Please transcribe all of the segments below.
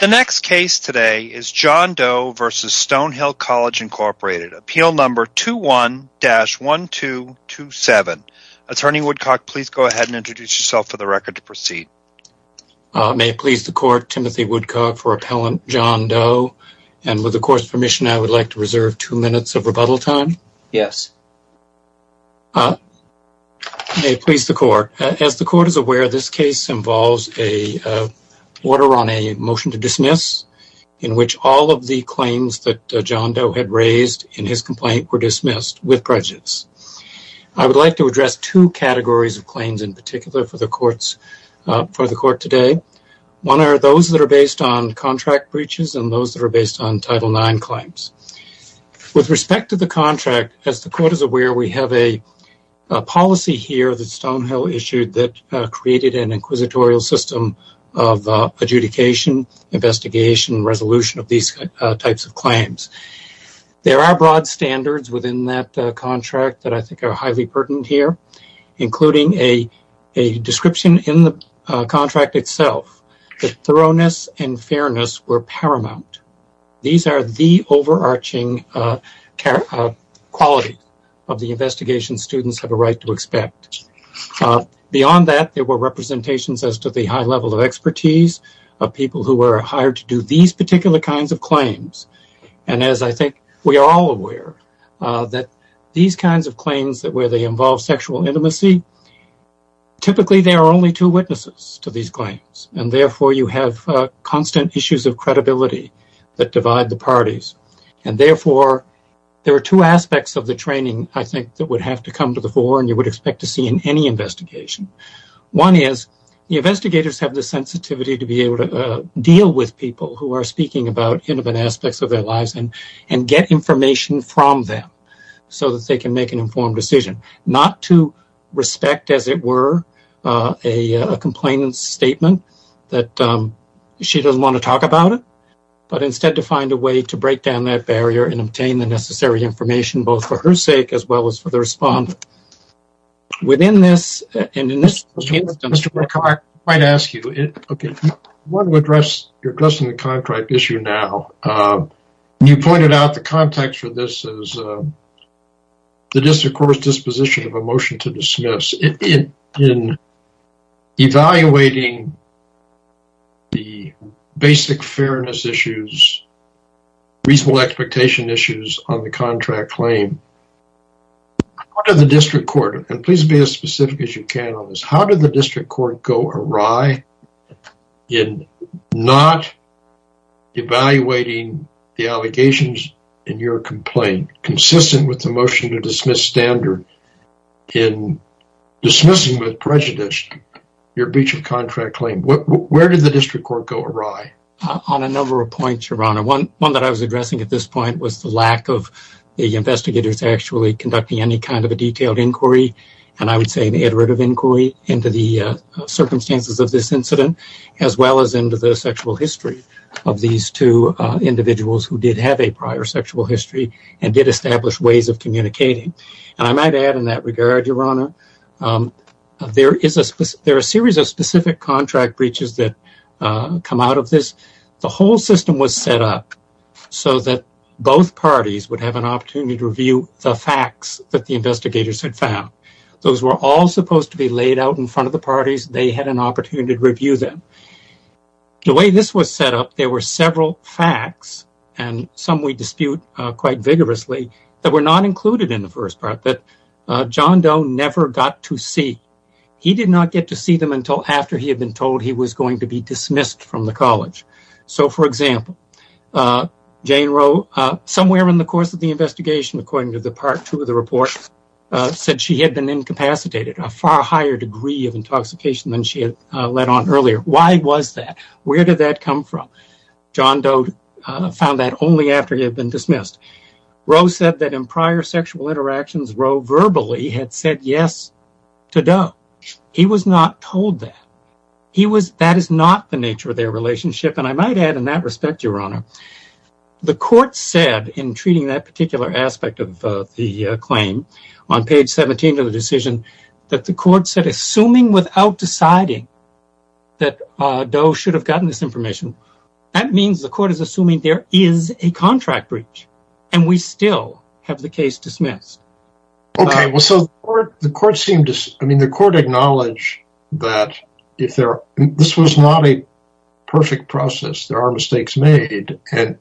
The next case today is John Doe v. Stonehill College, Inc. Appeal Number 21-1227. Attorney Woodcock, please go ahead and introduce yourself for the record to proceed. May it please the Court, Timothy Woodcock for Appellant John Doe. And with the Court's permission, I would like to reserve two minutes of rebuttal time. Yes. May it please the Court. As the Court is aware, this case involves an order on a motion to dismiss, in which all of the claims that John Doe had raised in his complaint were dismissed with prejudice. I would like to address two categories of claims in particular for the Court today. One are those that are based on contract breaches and those that are based on Title IX claims. With respect to the contract, as the Court is aware, we have a policy here that Stonehill issued that created an inquisitorial system of adjudication, investigation, and resolution of these types of claims. There are broad standards within that contract that I think are highly pertinent here, including a description in the contract itself that thoroughness and fairness were paramount. These are the overarching qualities of the investigation students have a right to expect. Beyond that, there were representations as to the high level of expertise of people who were hired to do these particular kinds of claims. And as I think we are all aware, these kinds of claims where they involve sexual intimacy, typically there are only two witnesses to these claims, and therefore you have constant issues of credibility that divide the parties. Therefore, there are two aspects of the training I think that would have to come to the fore and you would expect to see in any investigation. One is the investigators have the sensitivity to be able to deal with people who are speaking about intimate aspects of their lives and get information from them so that they can make an informed decision. Not to respect, as it were, a complainant's statement that she doesn't want to talk about it, but instead to find a way to break down that barrier and obtain the necessary information, both for her sake as well as for the respondent. Within this, and in this system- Mr. McCoy, I might ask you. I want to address your question on the contract issue now. You pointed out the context for this as the district court's disposition of a motion to dismiss. In evaluating the basic fairness issues, reasonable expectation issues on the contract claim, how did the district court, and please be as specific as you can on this, how did the district court go awry in not evaluating the allegations in your complaint, consistent with the motion to dismiss standard in dismissing with prejudice your breach of contract claim? Where did the district court go awry? On a number of points, Your Honor. One that I was addressing at this point was the lack of the investigators actually conducting any kind of a detailed inquiry, and I would say an iterative inquiry into the circumstances of this incident, as well as into the sexual history of these two individuals who did have a prior sexual history and did establish ways of communicating. And I might add in that regard, Your Honor, there are a series of specific contract breaches that come out of this. The whole system was set up so that both parties would have an opportunity to review the facts that the investigators had found. Those were all supposed to be laid out in front of the parties. They had an opportunity to review them. The way this was set up, there were several facts, and some we dispute quite vigorously, that were not included in the first part that John Doe never got to see. He did not get to see them until after he had been told he was going to be dismissed from the college. So, for example, Jane Roe, somewhere in the course of the investigation, according to the Part 2 of the report, said she had been incapacitated, a far higher degree of intoxication than she had let on earlier. Why was that? Where did that come from? John Doe found that only after he had been dismissed. Roe said that in prior sexual interactions, Roe verbally had said yes to Doe. He was not told that. That is not the nature of their relationship, and I might add in that respect, Your Honor, the court said in treating that particular aspect of the claim, on page 17 of the decision, that the court said, assuming without deciding that Doe should have gotten this information, that means the court is assuming there is a contract breach, and we still have the case dismissed. Okay, well, so the court acknowledged that this was not a perfect process. There are mistakes made, and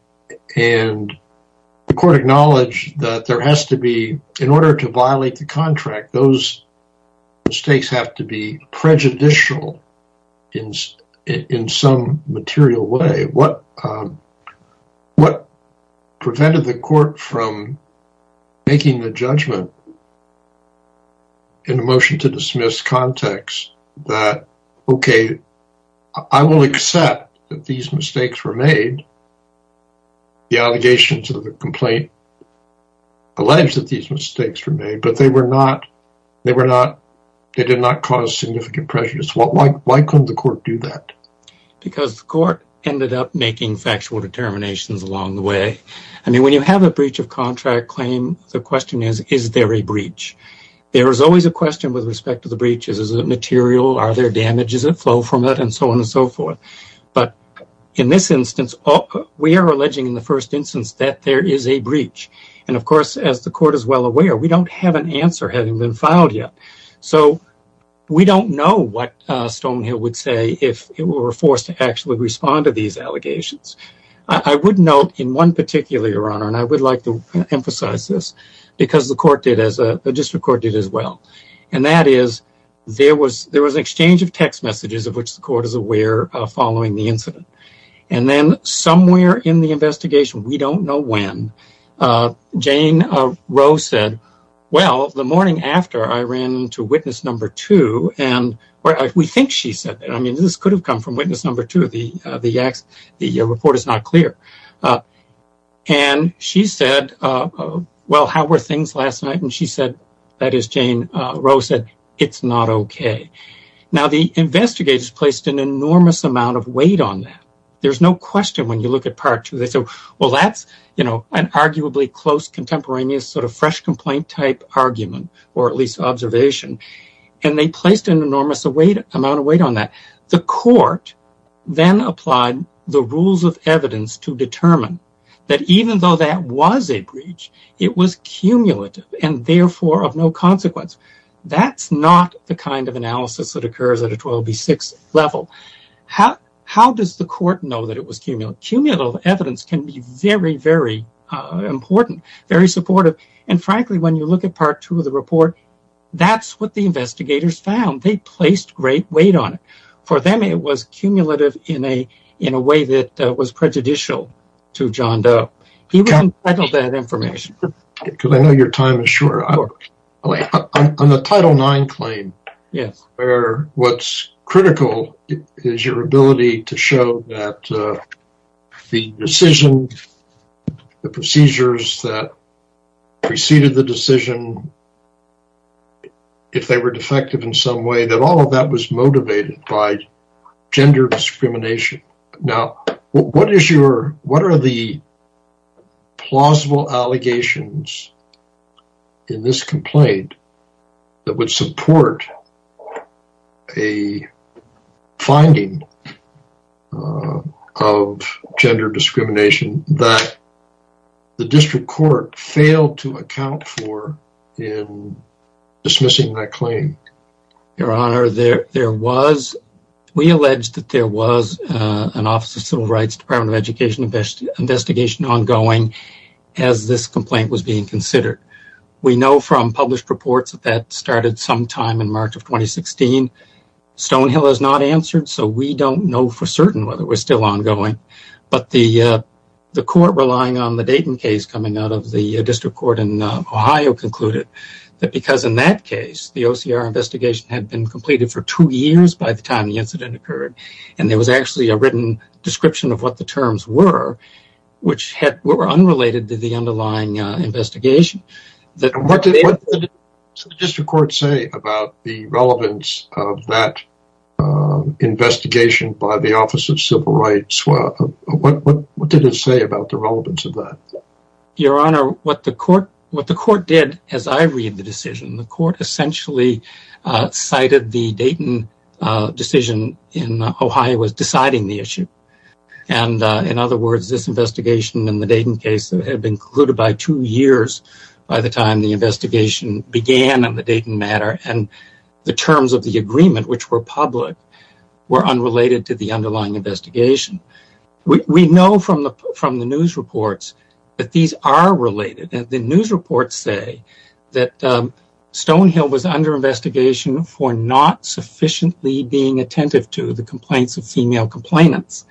the court acknowledged that there has to be, in order to violate the contract, those mistakes have to be prejudicial in some material way. What prevented the court from making the judgment in a motion to dismiss context that, okay, I will accept that these mistakes were made. The allegations of the complaint alleged that these mistakes were made, but they did not cause significant prejudice. Why couldn't the court do that? Because the court ended up making factual determinations along the way. I mean, when you have a breach of contract claim, the question is, is there a breach? There is always a question with respect to the breach. Is it material? Are there damages that flow from it? And so on and so forth. But in this instance, we are alleging in the first instance that there is a breach. And, of course, as the court is well aware, we don't have an answer having been filed yet. So we don't know what Stonehill would say if it were forced to actually respond to these allegations. I would note in one particular, Your Honor, and I would like to emphasize this, because the court did, the district court did as well, and that is there was an exchange of text messages of which the court is aware following the incident. And then somewhere in the investigation, we don't know when, Jane Rowe said, well, the morning after I ran into witness number two, and we think she said that. I mean, this could have come from witness number two. The report is not clear. And she said, well, how were things last night? And she said, that is Jane Rowe said, it's not okay. Now, the investigators placed an enormous amount of weight on that. There's no question when you look at part two, they said, well, that's, you know, an arguably close contemporaneous sort of fresh complaint type argument, or at least observation. And they placed an enormous amount of weight on that. The court then applied the rules of evidence to determine that even though that was a breach, it was cumulative and therefore of no consequence. That's not the kind of analysis that occurs at a 12B6 level. How does the court know that it was cumulative? Cumulative evidence can be very, very important, very supportive. And frankly, when you look at part two of the report, that's what the investigators found. They placed great weight on it. For them, it was cumulative in a way that was prejudicial to John Doe. He was entitled to that information. Because I know your time is short. On the Title IX claim, where what's critical is your ability to show that the decision, the procedures that preceded the decision, if they were defective in some way, that all of that was motivated by gender discrimination. Now, what are the plausible allegations in this complaint that would support a finding of gender discrimination that the district court failed to account for in dismissing that claim? Your Honor, we alleged that there was an Office of Civil Rights Department of Education investigation ongoing as this complaint was being considered. We know from published reports that that started sometime in March of 2016. Stonehill has not answered, so we don't know for certain whether it was still ongoing. But the court relying on the Dayton case coming out of the district court in Ohio concluded that because in that case, the OCR investigation had been completed for two years by the time the incident occurred and there was actually a written description of what the terms were, which were unrelated to the underlying investigation. What did the district court say about the relevance of that investigation by the Office of Civil Rights? What did it say about the relevance of that? Your Honor, what the court did as I read the decision, the court essentially cited the Dayton decision in Ohio as deciding the issue. In other words, this investigation in the Dayton case had been concluded by two years by the time the investigation began on the Dayton matter and the terms of the agreement, which were public, were unrelated to the underlying investigation. We know from the news reports that these are related. The news reports say that Stonehill was under investigation for not sufficiently being attentive to the complaints of female complainants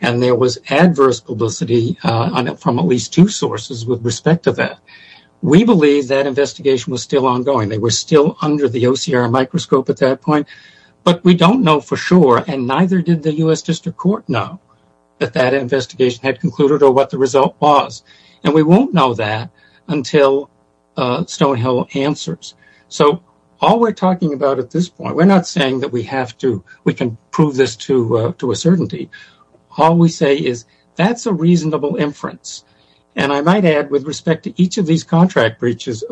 and there was adverse publicity from at least two sources with respect to that. We believe that investigation was still ongoing. They were still under the OCR microscope at that point, but we don't know for sure and neither did the U.S. District Court know that that investigation had concluded or what the result was. We won't know that until Stonehill answers. All we're talking about at this point, we're not saying that we can prove this to a certainty. All we say is that's a reasonable inference. I might add with respect to each of these contract breaches,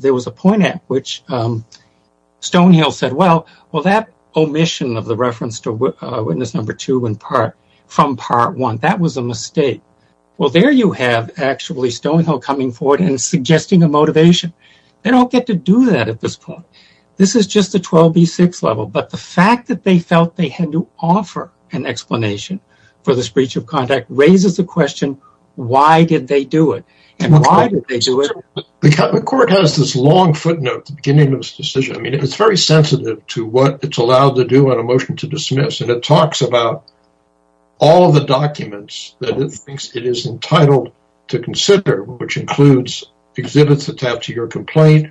there was a point at which Stonehill said, well, that omission of the reference to witness number two from part one, that was a mistake. Well, there you have actually Stonehill coming forward and suggesting a motivation. They don't get to do that at this point. This is just the 12B6 level, but the fact that they felt they had to offer an explanation for the breach of contract raises the question, why did they do it and why did they do it? The court has this long footnote at the beginning of this decision. I mean, it's very sensitive to what it's allowed to do on a motion to dismiss, and it talks about all of the documents that it thinks it is entitled to consider, which includes exhibits attached to your complaint,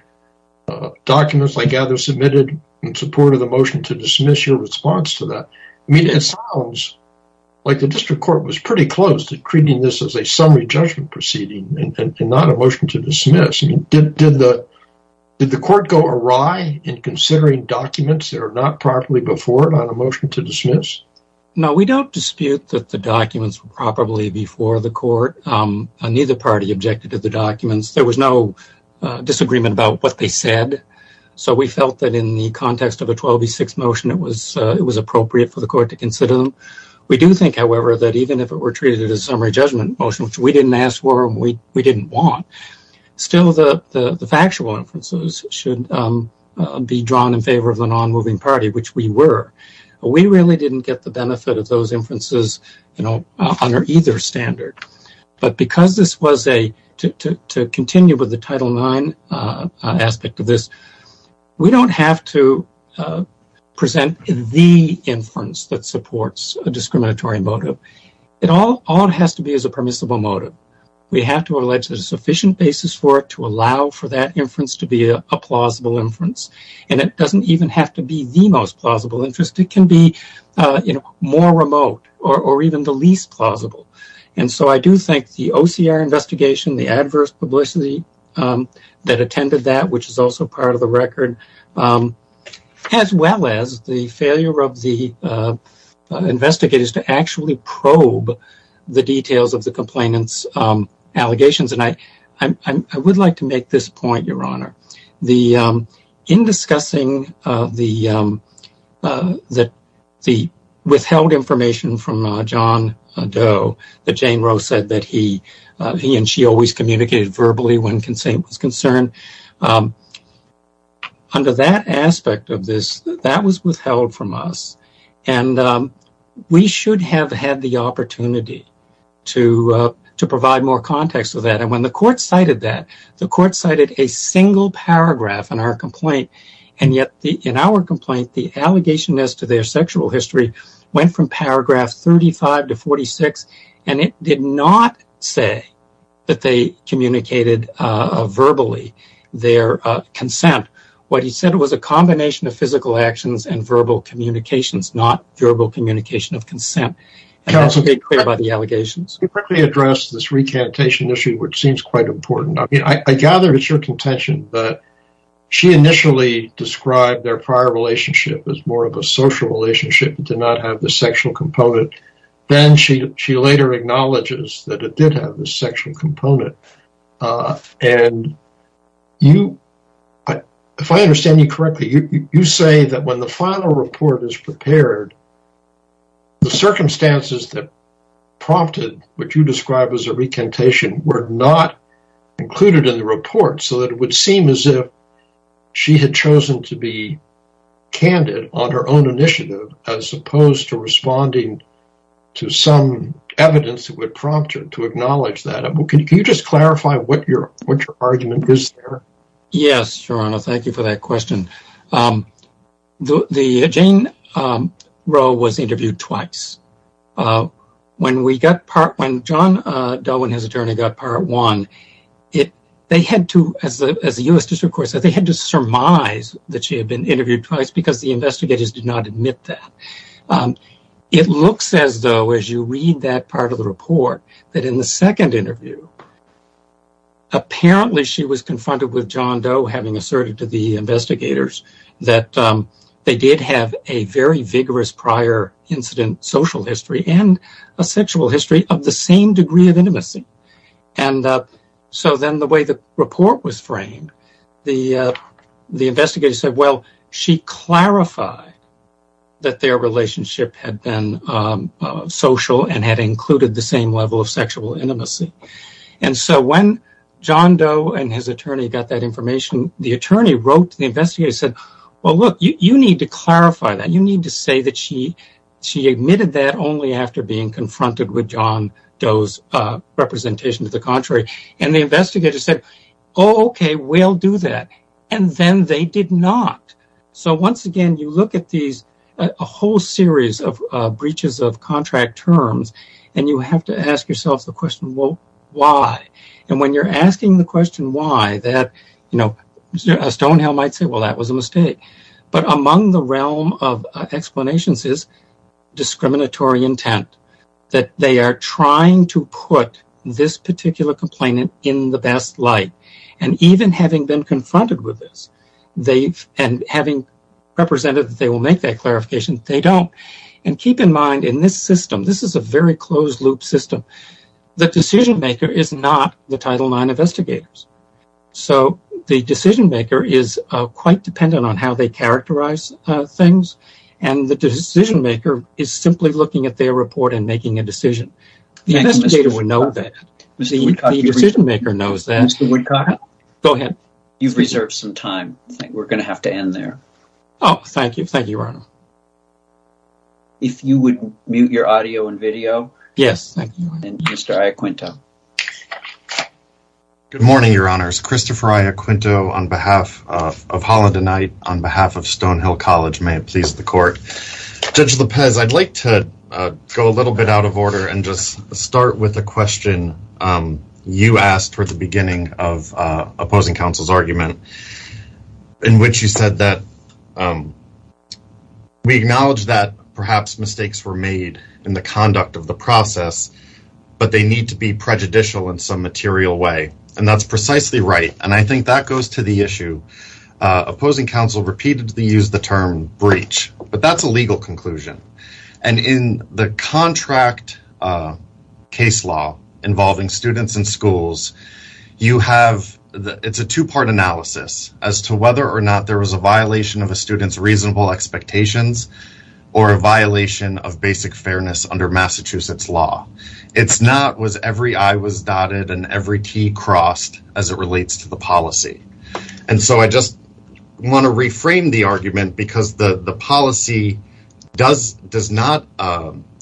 documents, I gather, submitted in support of the motion to dismiss your response to that. I mean, it sounds like the district court was pretty close to treating this as a summary judgment proceeding and not a motion to dismiss. Did the court go awry in considering documents that are not properly before it on a motion to dismiss? No, we don't dispute that the documents were properly before the court. Neither party objected to the documents. There was no disagreement about what they said, so we felt that in the context of a 12B6 motion it was appropriate for the court to consider them. We do think, however, that even if it were treated as a summary judgment motion, which we didn't ask for and we didn't want, still the factual inferences should be drawn in favor of the nonmoving party, which we were. We really didn't get the benefit of those inferences under either standard. But because this was a – to continue with the Title IX aspect of this, we don't have to present the inference that supports a discriminatory motive. All it has to be is a permissible motive. We have to allege a sufficient basis for it to allow for that inference to be a plausible inference, and it doesn't even have to be the most plausible inference. It can be more remote or even the least plausible. And so I do think the OCR investigation, the adverse publicity that attended that, which is also part of the record, as well as the failure of the investigators to actually probe the details of the complainant's allegations. And I would like to make this point, Your Honor. In discussing the withheld information from John Doe that Jane Roe said that he and she always communicated verbally when consent was concerned, under that aspect of this, that was withheld from us. And we should have had the opportunity to provide more context of that. And when the court cited that, the court cited a single paragraph in our complaint. And yet in our complaint, the allegation as to their sexual history went from paragraph 35 to 46, and it did not say that they communicated verbally their consent. What he said was a combination of physical actions and verbal communications, not verbal communication of consent. And that's made clear by the allegations. You quickly addressed this recantation issue, which seems quite important. I mean, I gather it's your contention that she initially described their prior relationship as more of a social relationship and did not have the sexual component. Then she later acknowledges that it did have the sexual component. And if I understand you correctly, you say that when the final report is prepared, the circumstances that prompted what you described as a recantation were not included in the report, so that it would seem as if she had chosen to be candid on her own initiative as opposed to responding to some evidence that would prompt her to acknowledge that. Can you just clarify what your argument is there? Yes, Your Honor, thank you for that question. Jane Rowe was interviewed twice. When John Delwin, his attorney, got Part 1, they had to, as the U.S. District Court said, they had to surmise that she had been interviewed twice because the investigators did not admit that. It looks as though, as you read that part of the report, that in the second interview, apparently she was confronted with John Doe having asserted to the investigators that they did have a very vigorous prior incident social history and a sexual history of the same degree of intimacy. So then the way the report was framed, the investigators said, well, she clarified that their relationship had been social and had included the same level of sexual intimacy. And so when John Doe and his attorney got that information, the attorney wrote to the investigators and said, well, look, you need to clarify that. You need to say that she admitted that only after being confronted with John Doe's representation to the contrary. And the investigators said, oh, okay, we'll do that. And then they did not. So once again, you look at these whole series of breaches of contract terms, and you have to ask yourself the question, well, why? And when you're asking the question why, Stonehill might say, well, that was a mistake. But among the realm of explanations is discriminatory intent, that they are trying to put this particular complainant in the best light. And even having been confronted with this and having represented that they will make that clarification, they don't. And keep in mind, in this system, this is a very closed-loop system, the decision-maker is not the Title IX investigators. So the decision-maker is quite dependent on how they characterize things, and the decision-maker is simply looking at their report and making a decision. The investigator would know that. The decision-maker knows that. Mr. Woodcock? Go ahead. You've reserved some time. I think we're going to have to end there. Oh, thank you. Thank you, Ronald. If you would mute your audio and video. Yes, thank you. And Mr. Iacquinta. Good morning, Your Honors. Christopher Iacquinto of Holland and Knight, on behalf of Stonehill College. May it please the Court. Judge Lopez, I'd like to go a little bit out of order and just start with a question you asked for the beginning of opposing counsel's argument, in which you said that we acknowledge that perhaps mistakes were made in the conduct of the process, but they need to be prejudicial in some material way. And that's precisely right, and I think that goes to the issue. Opposing counsel repeatedly used the term breach, but that's a legal conclusion. And in the contract case law involving students and schools, you have – it's a two-part analysis as to whether or not there was a violation of a student's reasonable expectations or a violation of basic fairness under Massachusetts law. It's not was every I was dotted and every T crossed as it relates to the policy. And so I just want to reframe the argument because the policy does not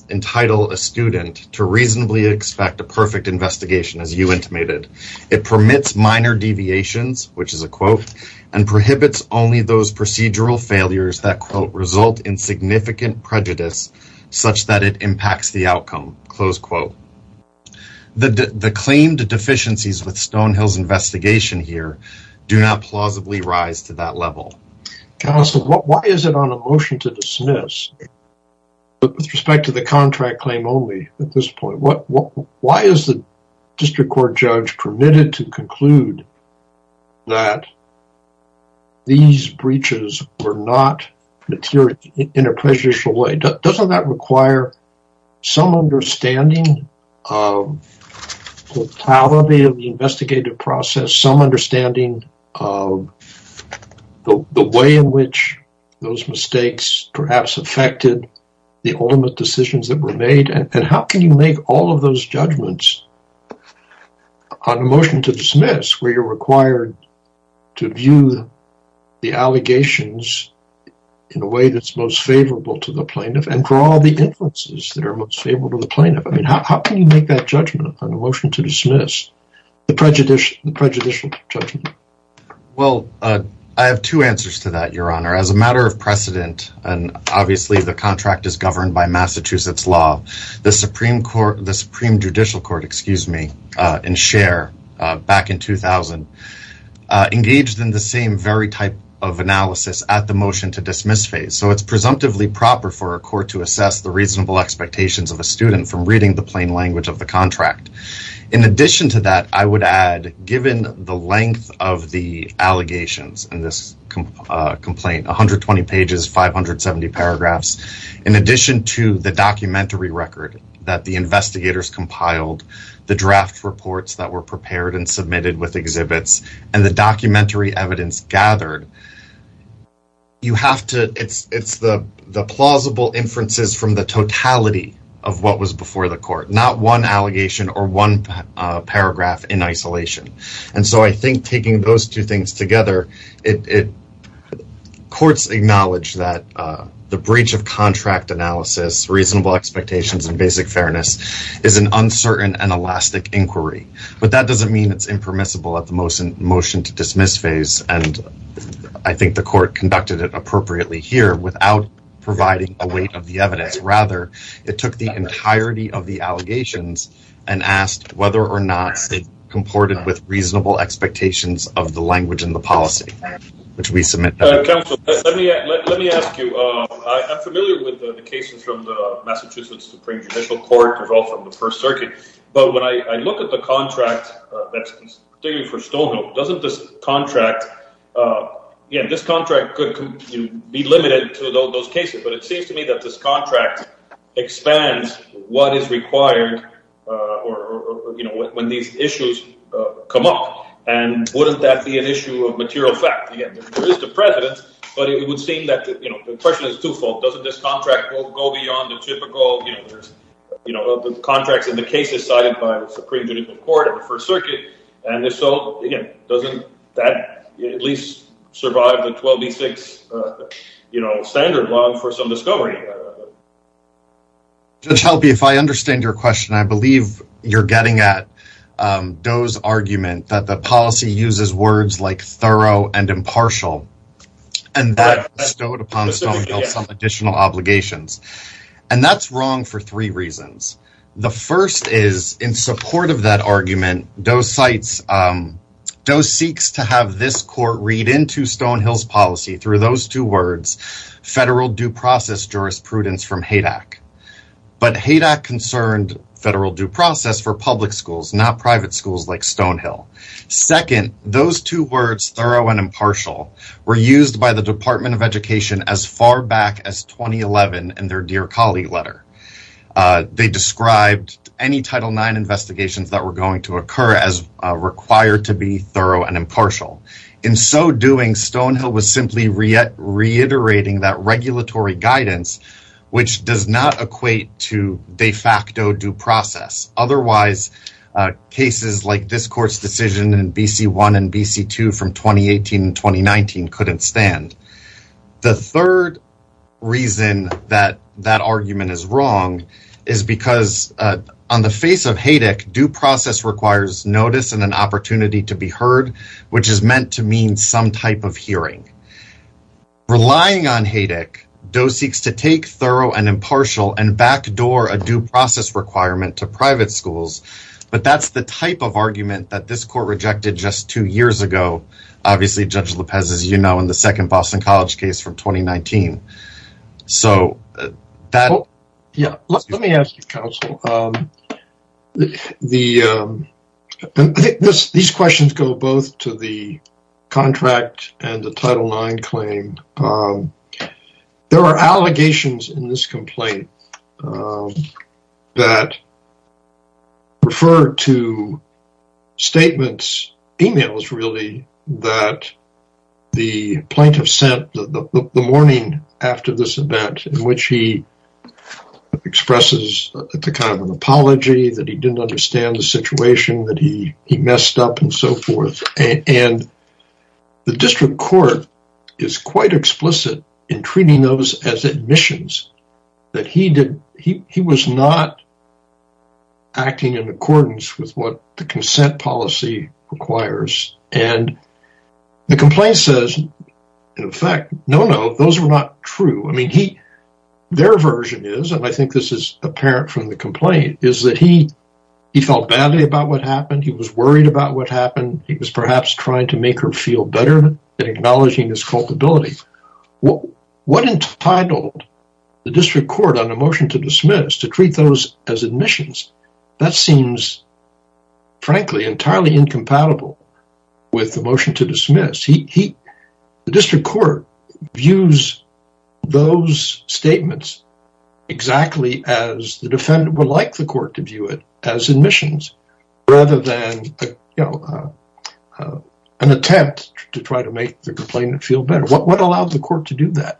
entitle a student to reasonably expect a perfect investigation, as you intimated. It permits minor deviations, which is a quote, and prohibits only those procedural failures that, quote, result in significant prejudice such that it impacts the outcome, close quote. The claimed deficiencies with Stonehill's investigation here do not plausibly rise to that level. Counsel, why is it on a motion to dismiss with respect to the contract claim only at this point? Why is the district court judge permitted to conclude that these breaches were not material in a prejudicial way? Doesn't that require some understanding of the investigative process, some understanding of the way in which those mistakes perhaps affected the ultimate decisions that were made? And how can you make all of those judgments on a motion to dismiss where you're required to view the allegations in a way that's most favorable to the plaintiff and draw the inferences that are most favorable to the plaintiff? I mean, how can you make that judgment on a motion to dismiss the prejudicial judgment? Well, I have two answers to that, Your Honor. As a matter of precedent, and obviously the contract is governed by Massachusetts law, the Supreme Judicial Court in Cher back in 2000 engaged in the same very type of analysis at the motion to dismiss phase. So it's presumptively proper for a court to assess the reasonable expectations of a student from reading the plain language of the contract. In addition to that, I would add, given the length of the allegations in this complaint, 120 pages, 570 paragraphs, in addition to the documentary record that the investigators compiled, the draft reports that were prepared and submitted with exhibits, and the documentary evidence gathered, it's the plausible inferences from the totality of what was before the court, not one allegation or one paragraph in isolation. And so I think taking those two things together, courts acknowledge that the breach of contract analysis, reasonable expectations, and basic fairness is an uncertain and elastic inquiry. But that doesn't mean it's impermissible at the motion to dismiss phase. And I think the court conducted it appropriately here without providing a weight of the evidence. Rather, it took the entirety of the allegations and asked whether or not it comported with reasonable expectations of the language in the policy, which we submit. Counsel, let me ask you, I'm familiar with the cases from the Massachusetts Supreme Judicial Court, as well from the First Circuit. But when I look at the contract, particularly for Stonehill, doesn't this contract, yeah, this contract could be limited to those cases. But it seems to me that this contract expands what is required when these issues come up. And wouldn't that be an issue of material fact? Again, there is the precedent, but it would seem that the question is twofold. Doesn't this contract go beyond the typical contracts in the cases cited by the Supreme Judicial Court and the First Circuit? And if so, again, doesn't that at least survive the 12B6 standard law for some discovery? Judge Helpe, if I understand your question, I believe you're getting at Doe's argument that the policy uses words like thorough and impartial. And that bestowed upon Stonehill some additional obligations. And that's wrong for three reasons. The first is, in support of that argument, Doe seeks to have this court read into Stonehill's policy through those two words, federal due process jurisprudence from HADAC. But HADAC concerned federal due process for public schools, not private schools like Stonehill. Second, those two words, thorough and impartial, were used by the Department of Education as far back as 2011 in their Dear Colleague letter. They described any Title IX investigations that were going to occur as required to be thorough and impartial. In so doing, Stonehill was simply reiterating that regulatory guidance, which does not equate to de facto due process. Otherwise, cases like this court's decision in BC1 and BC2 from 2018 and 2019 couldn't stand. The third reason that that argument is wrong is because on the face of HADAC, due process requires notice and an opportunity to be heard, which is meant to mean some type of hearing. Relying on HADAC, Doe seeks to take thorough and impartial and backdoor a due process requirement to private schools. But that's the type of argument that this court rejected just two years ago. Obviously, Judge Lopez, as you know, in the second Boston College case from 2019. Let me ask you, counsel. These questions go both to the contract and the Title IX claim. There are allegations in this complaint that refer to statements, emails really, that the plaintiff sent the morning after this event in which he expresses the kind of apology that he didn't understand the situation that he messed up and so forth. And the district court is quite explicit in treating those as admissions that he was not acting in accordance with what the consent policy requires. And the complaint says, in effect, no, no, those were not true. Their version is, and I think this is apparent from the complaint, is that he felt badly about what happened. He was worried about what happened. He was perhaps trying to make her feel better and acknowledging his culpability. What entitled the district court on a motion to dismiss to treat those as admissions? That seems, frankly, entirely incompatible with the motion to dismiss. The district court views those statements exactly as the defendant would like the court to view it as admissions rather than an attempt to try to make the complainant feel better. What allowed the court to do that?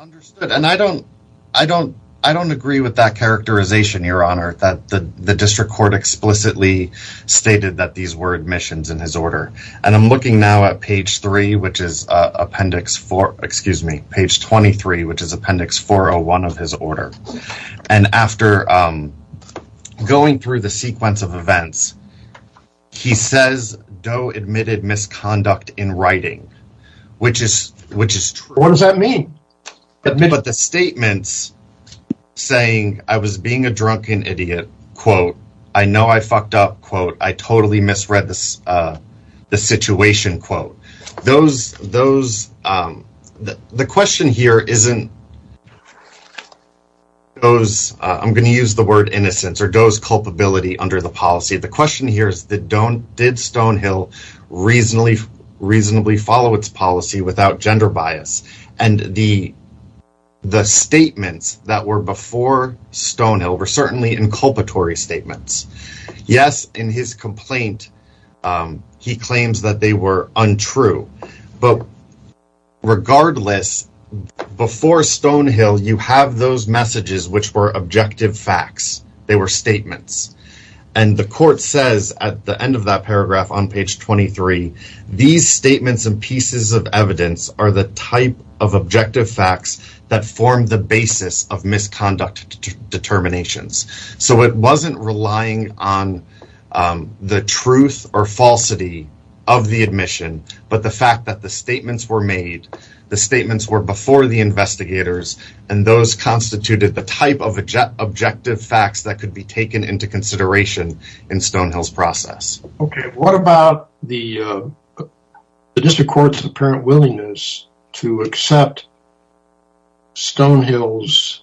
Understood. And I don't agree with that characterization, Your Honor, that the district court explicitly stated that these were admissions in his order. And I'm looking now at page 3, which is appendix 4, excuse me, page 23, which is appendix 401 of his order. And after going through the sequence of events, he says Doe admitted misconduct in writing, which is, which is true. What does that mean? But the statements saying I was being a drunken idiot, quote, I know I fucked up, quote, I totally misread the situation, quote, those those. The question here isn't. I'm going to use the word innocence or does culpability under the policy. The question here is that don't did Stonehill reasonably, reasonably follow its policy without gender bias. And the the statements that were before Stonehill were certainly inculpatory statements. Yes. In his complaint, he claims that they were untrue. But regardless, before Stonehill, you have those messages which were objective facts. They were statements. And the court says at the end of that paragraph on page 23, these statements and pieces of evidence are the type of objective facts that form the basis of misconduct determinations. So it wasn't relying on the truth or falsity of the admission. But the fact that the statements were made, the statements were before the investigators, and those constituted the type of objective facts that could be taken into consideration in Stonehill's process. OK, what about the district court's apparent willingness to accept Stonehill's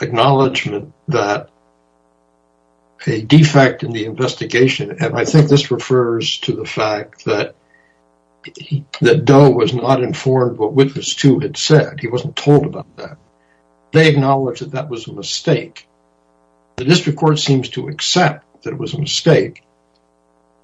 acknowledgement that a defect in the investigation? And I think this refers to the fact that that Doe was not informed what Witness 2 had said. He wasn't told about that. The district court seems to accept that it was a mistake.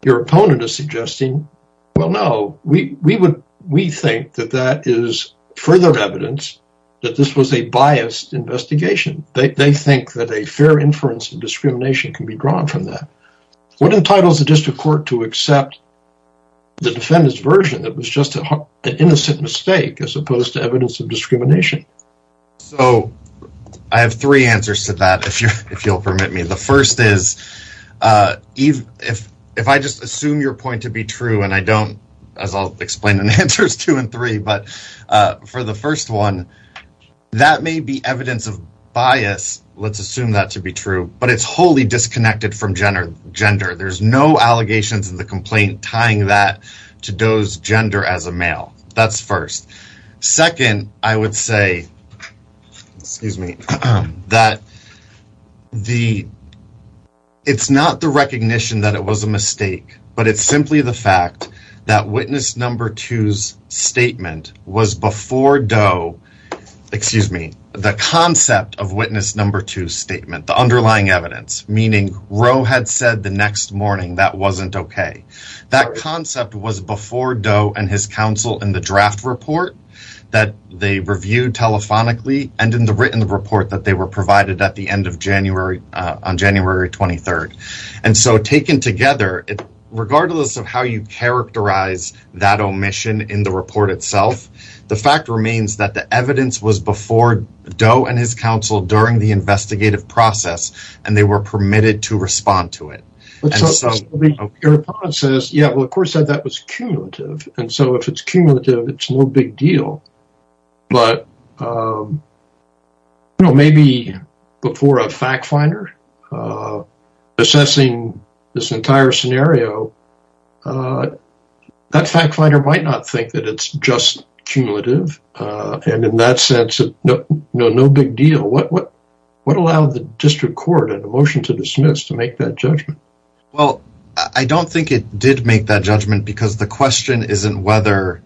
Your opponent is suggesting, well, no, we would we think that that is further evidence that this was a biased investigation. They think that a fair inference of discrimination can be drawn from that. What entitles the district court to accept the defendant's version that was just an innocent mistake as opposed to evidence of discrimination? So I have three answers to that, if you'll permit me. The first is, if I just assume your point to be true, and I don't, as I'll explain in answers two and three, but for the first one, that may be evidence of bias. Let's assume that to be true, but it's wholly disconnected from gender. There's no allegations in the complaint tying that to Doe's gender as a male. That's first. Second, I would say, excuse me, that it's not the recognition that it was a mistake. But it's simply the fact that Witness 2's statement was before Doe, excuse me, the concept of Witness 2's statement, the underlying evidence, meaning Roe had said the next morning that wasn't okay. That concept was before Doe and his counsel in the draft report that they reviewed telephonically and in the written report that they were provided at the end of January, on January 23rd. And so taken together, regardless of how you characterize that omission in the report itself, the fact remains that the evidence was before Doe and his counsel during the investigative process, and they were permitted to respond to it. Your opponent says, yeah, well, of course, that was cumulative. And so if it's cumulative, it's no big deal. But maybe before a fact finder assessing this entire scenario, that fact finder might not think that it's just cumulative. And in that sense, no big deal. What allowed the district court a motion to dismiss to make that judgment? Well, I don't think it did make that judgment because the question isn't whether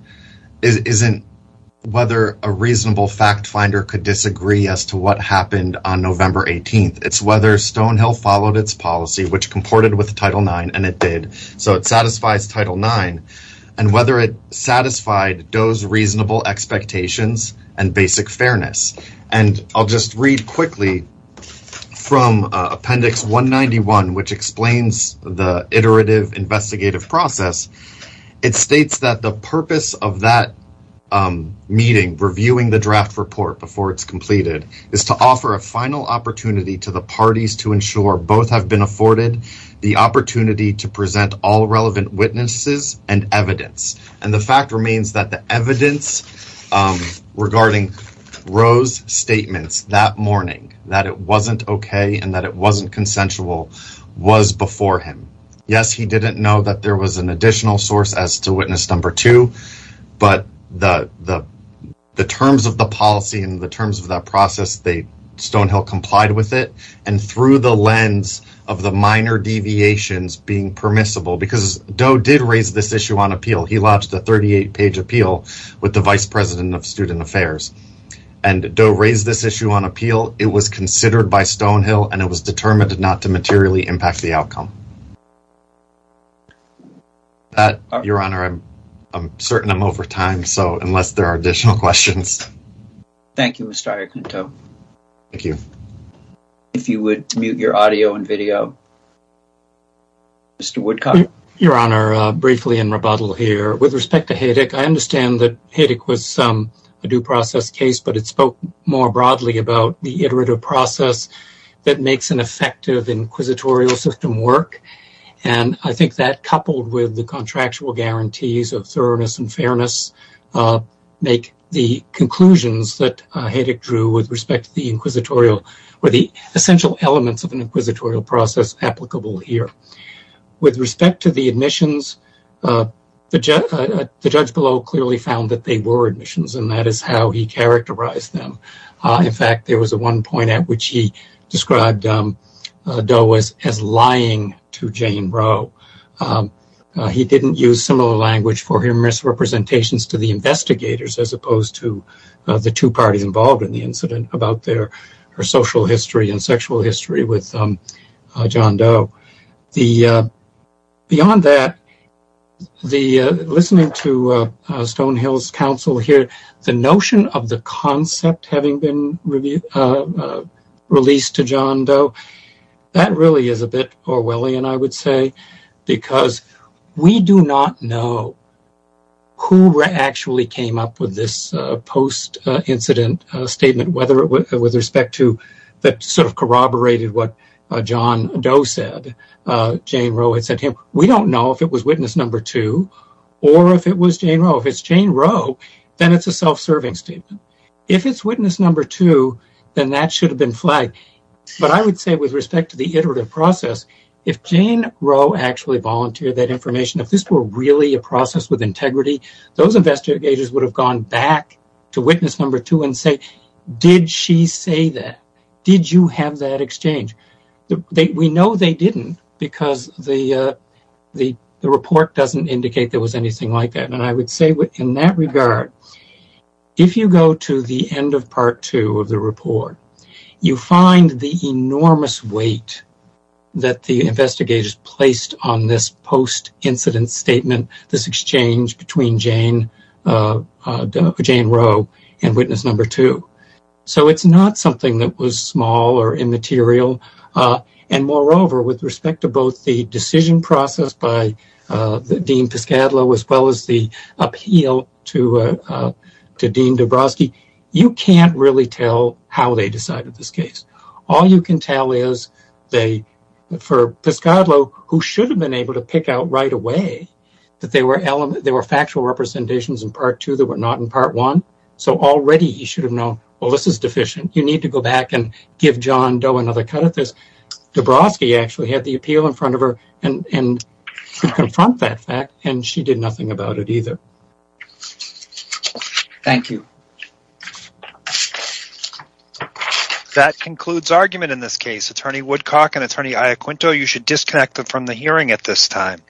a reasonable fact finder could disagree as to what happened on November 18th. It's whether Stonehill followed its policy, which comported with Title IX, and it did. So it satisfies Title IX, and whether it satisfied Doe's reasonable expectations and basic fairness. And I'll just read quickly from Appendix 191, which explains the iterative investigative process. It states that the purpose of that meeting, reviewing the draft report before it's completed, is to offer a final opportunity to the parties to ensure both have been afforded the opportunity to present all relevant witnesses and evidence. And the fact remains that the evidence regarding Roe's statements that morning, that it wasn't okay and that it wasn't consensual, was before him. Yes, he didn't know that there was an additional source as to witness number two, but the terms of the policy and the terms of that process, Stonehill complied with it. And through the lens of the minor deviations being permissible, because Doe did raise this issue on appeal. He lodged a 38-page appeal with the vice president of student affairs. And Doe raised this issue on appeal. It was considered by Stonehill, and it was determined not to materially impact the outcome. Your Honor, I'm certain I'm over time, so unless there are additional questions. Thank you, Mr. Aricanto. Thank you. If you would mute your audio and video. Mr. Woodcock. Your Honor, briefly in rebuttal here. With respect to Haydick, I understand that Haydick was a due process case, but it spoke more broadly about the iterative process that makes an effective inquisitorial system work. And I think that, coupled with the contractual guarantees of thoroughness and fairness, make the conclusions that Haydick drew with respect to the inquisitorial or the essential elements of an inquisitorial process applicable here. With respect to the admissions, the judge below clearly found that they were admissions, and that is how he characterized them. In fact, there was one point at which he described Doe as lying to Jane Roe. He didn't use similar language for his misrepresentations to the investigators, as opposed to the two parties involved in the incident about their social history and sexual history with John Doe. Beyond that, listening to Stonehill's counsel here, the notion of the concept having been released to John Doe, that really is a bit Orwellian, I would say. Because we do not know who actually came up with this post-incident statement with respect to that sort of corroborated what John Doe said, Jane Roe had said to him. We don't know if it was witness number two or if it was Jane Roe. If it's Jane Roe, then it's a self-serving statement. If it's witness number two, then that should have been flagged. But I would say with respect to the iterative process, if Jane Roe actually volunteered that information, if this were really a process with integrity, those investigators would have gone back to witness number two and said, did she say that? Did you have that exchange? We know they didn't because the report doesn't indicate there was anything like that. I would say in that regard, if you go to the end of part two of the report, you find the enormous weight that the investigators placed on this post-incident statement, this exchange between Jane Roe and witness number two. So it's not something that was small or immaterial. And moreover, with respect to both the decision process by Dean Piscatlo as well as the appeal to Dean Dabrowski, you can't really tell how they decided this case. All you can tell is for Piscatlo, who should have been able to pick out right away that there were factual representations in part two that were not in part one, so already he should have known, well, this is deficient. You need to go back and give John Doe another cut of this. Dabrowski actually had the appeal in front of her and could confront that fact, and she did nothing about it either. Thank you. That concludes argument in this case. Attorney Woodcock and Attorney Iacquinto, you should disconnect from the hearing at this time.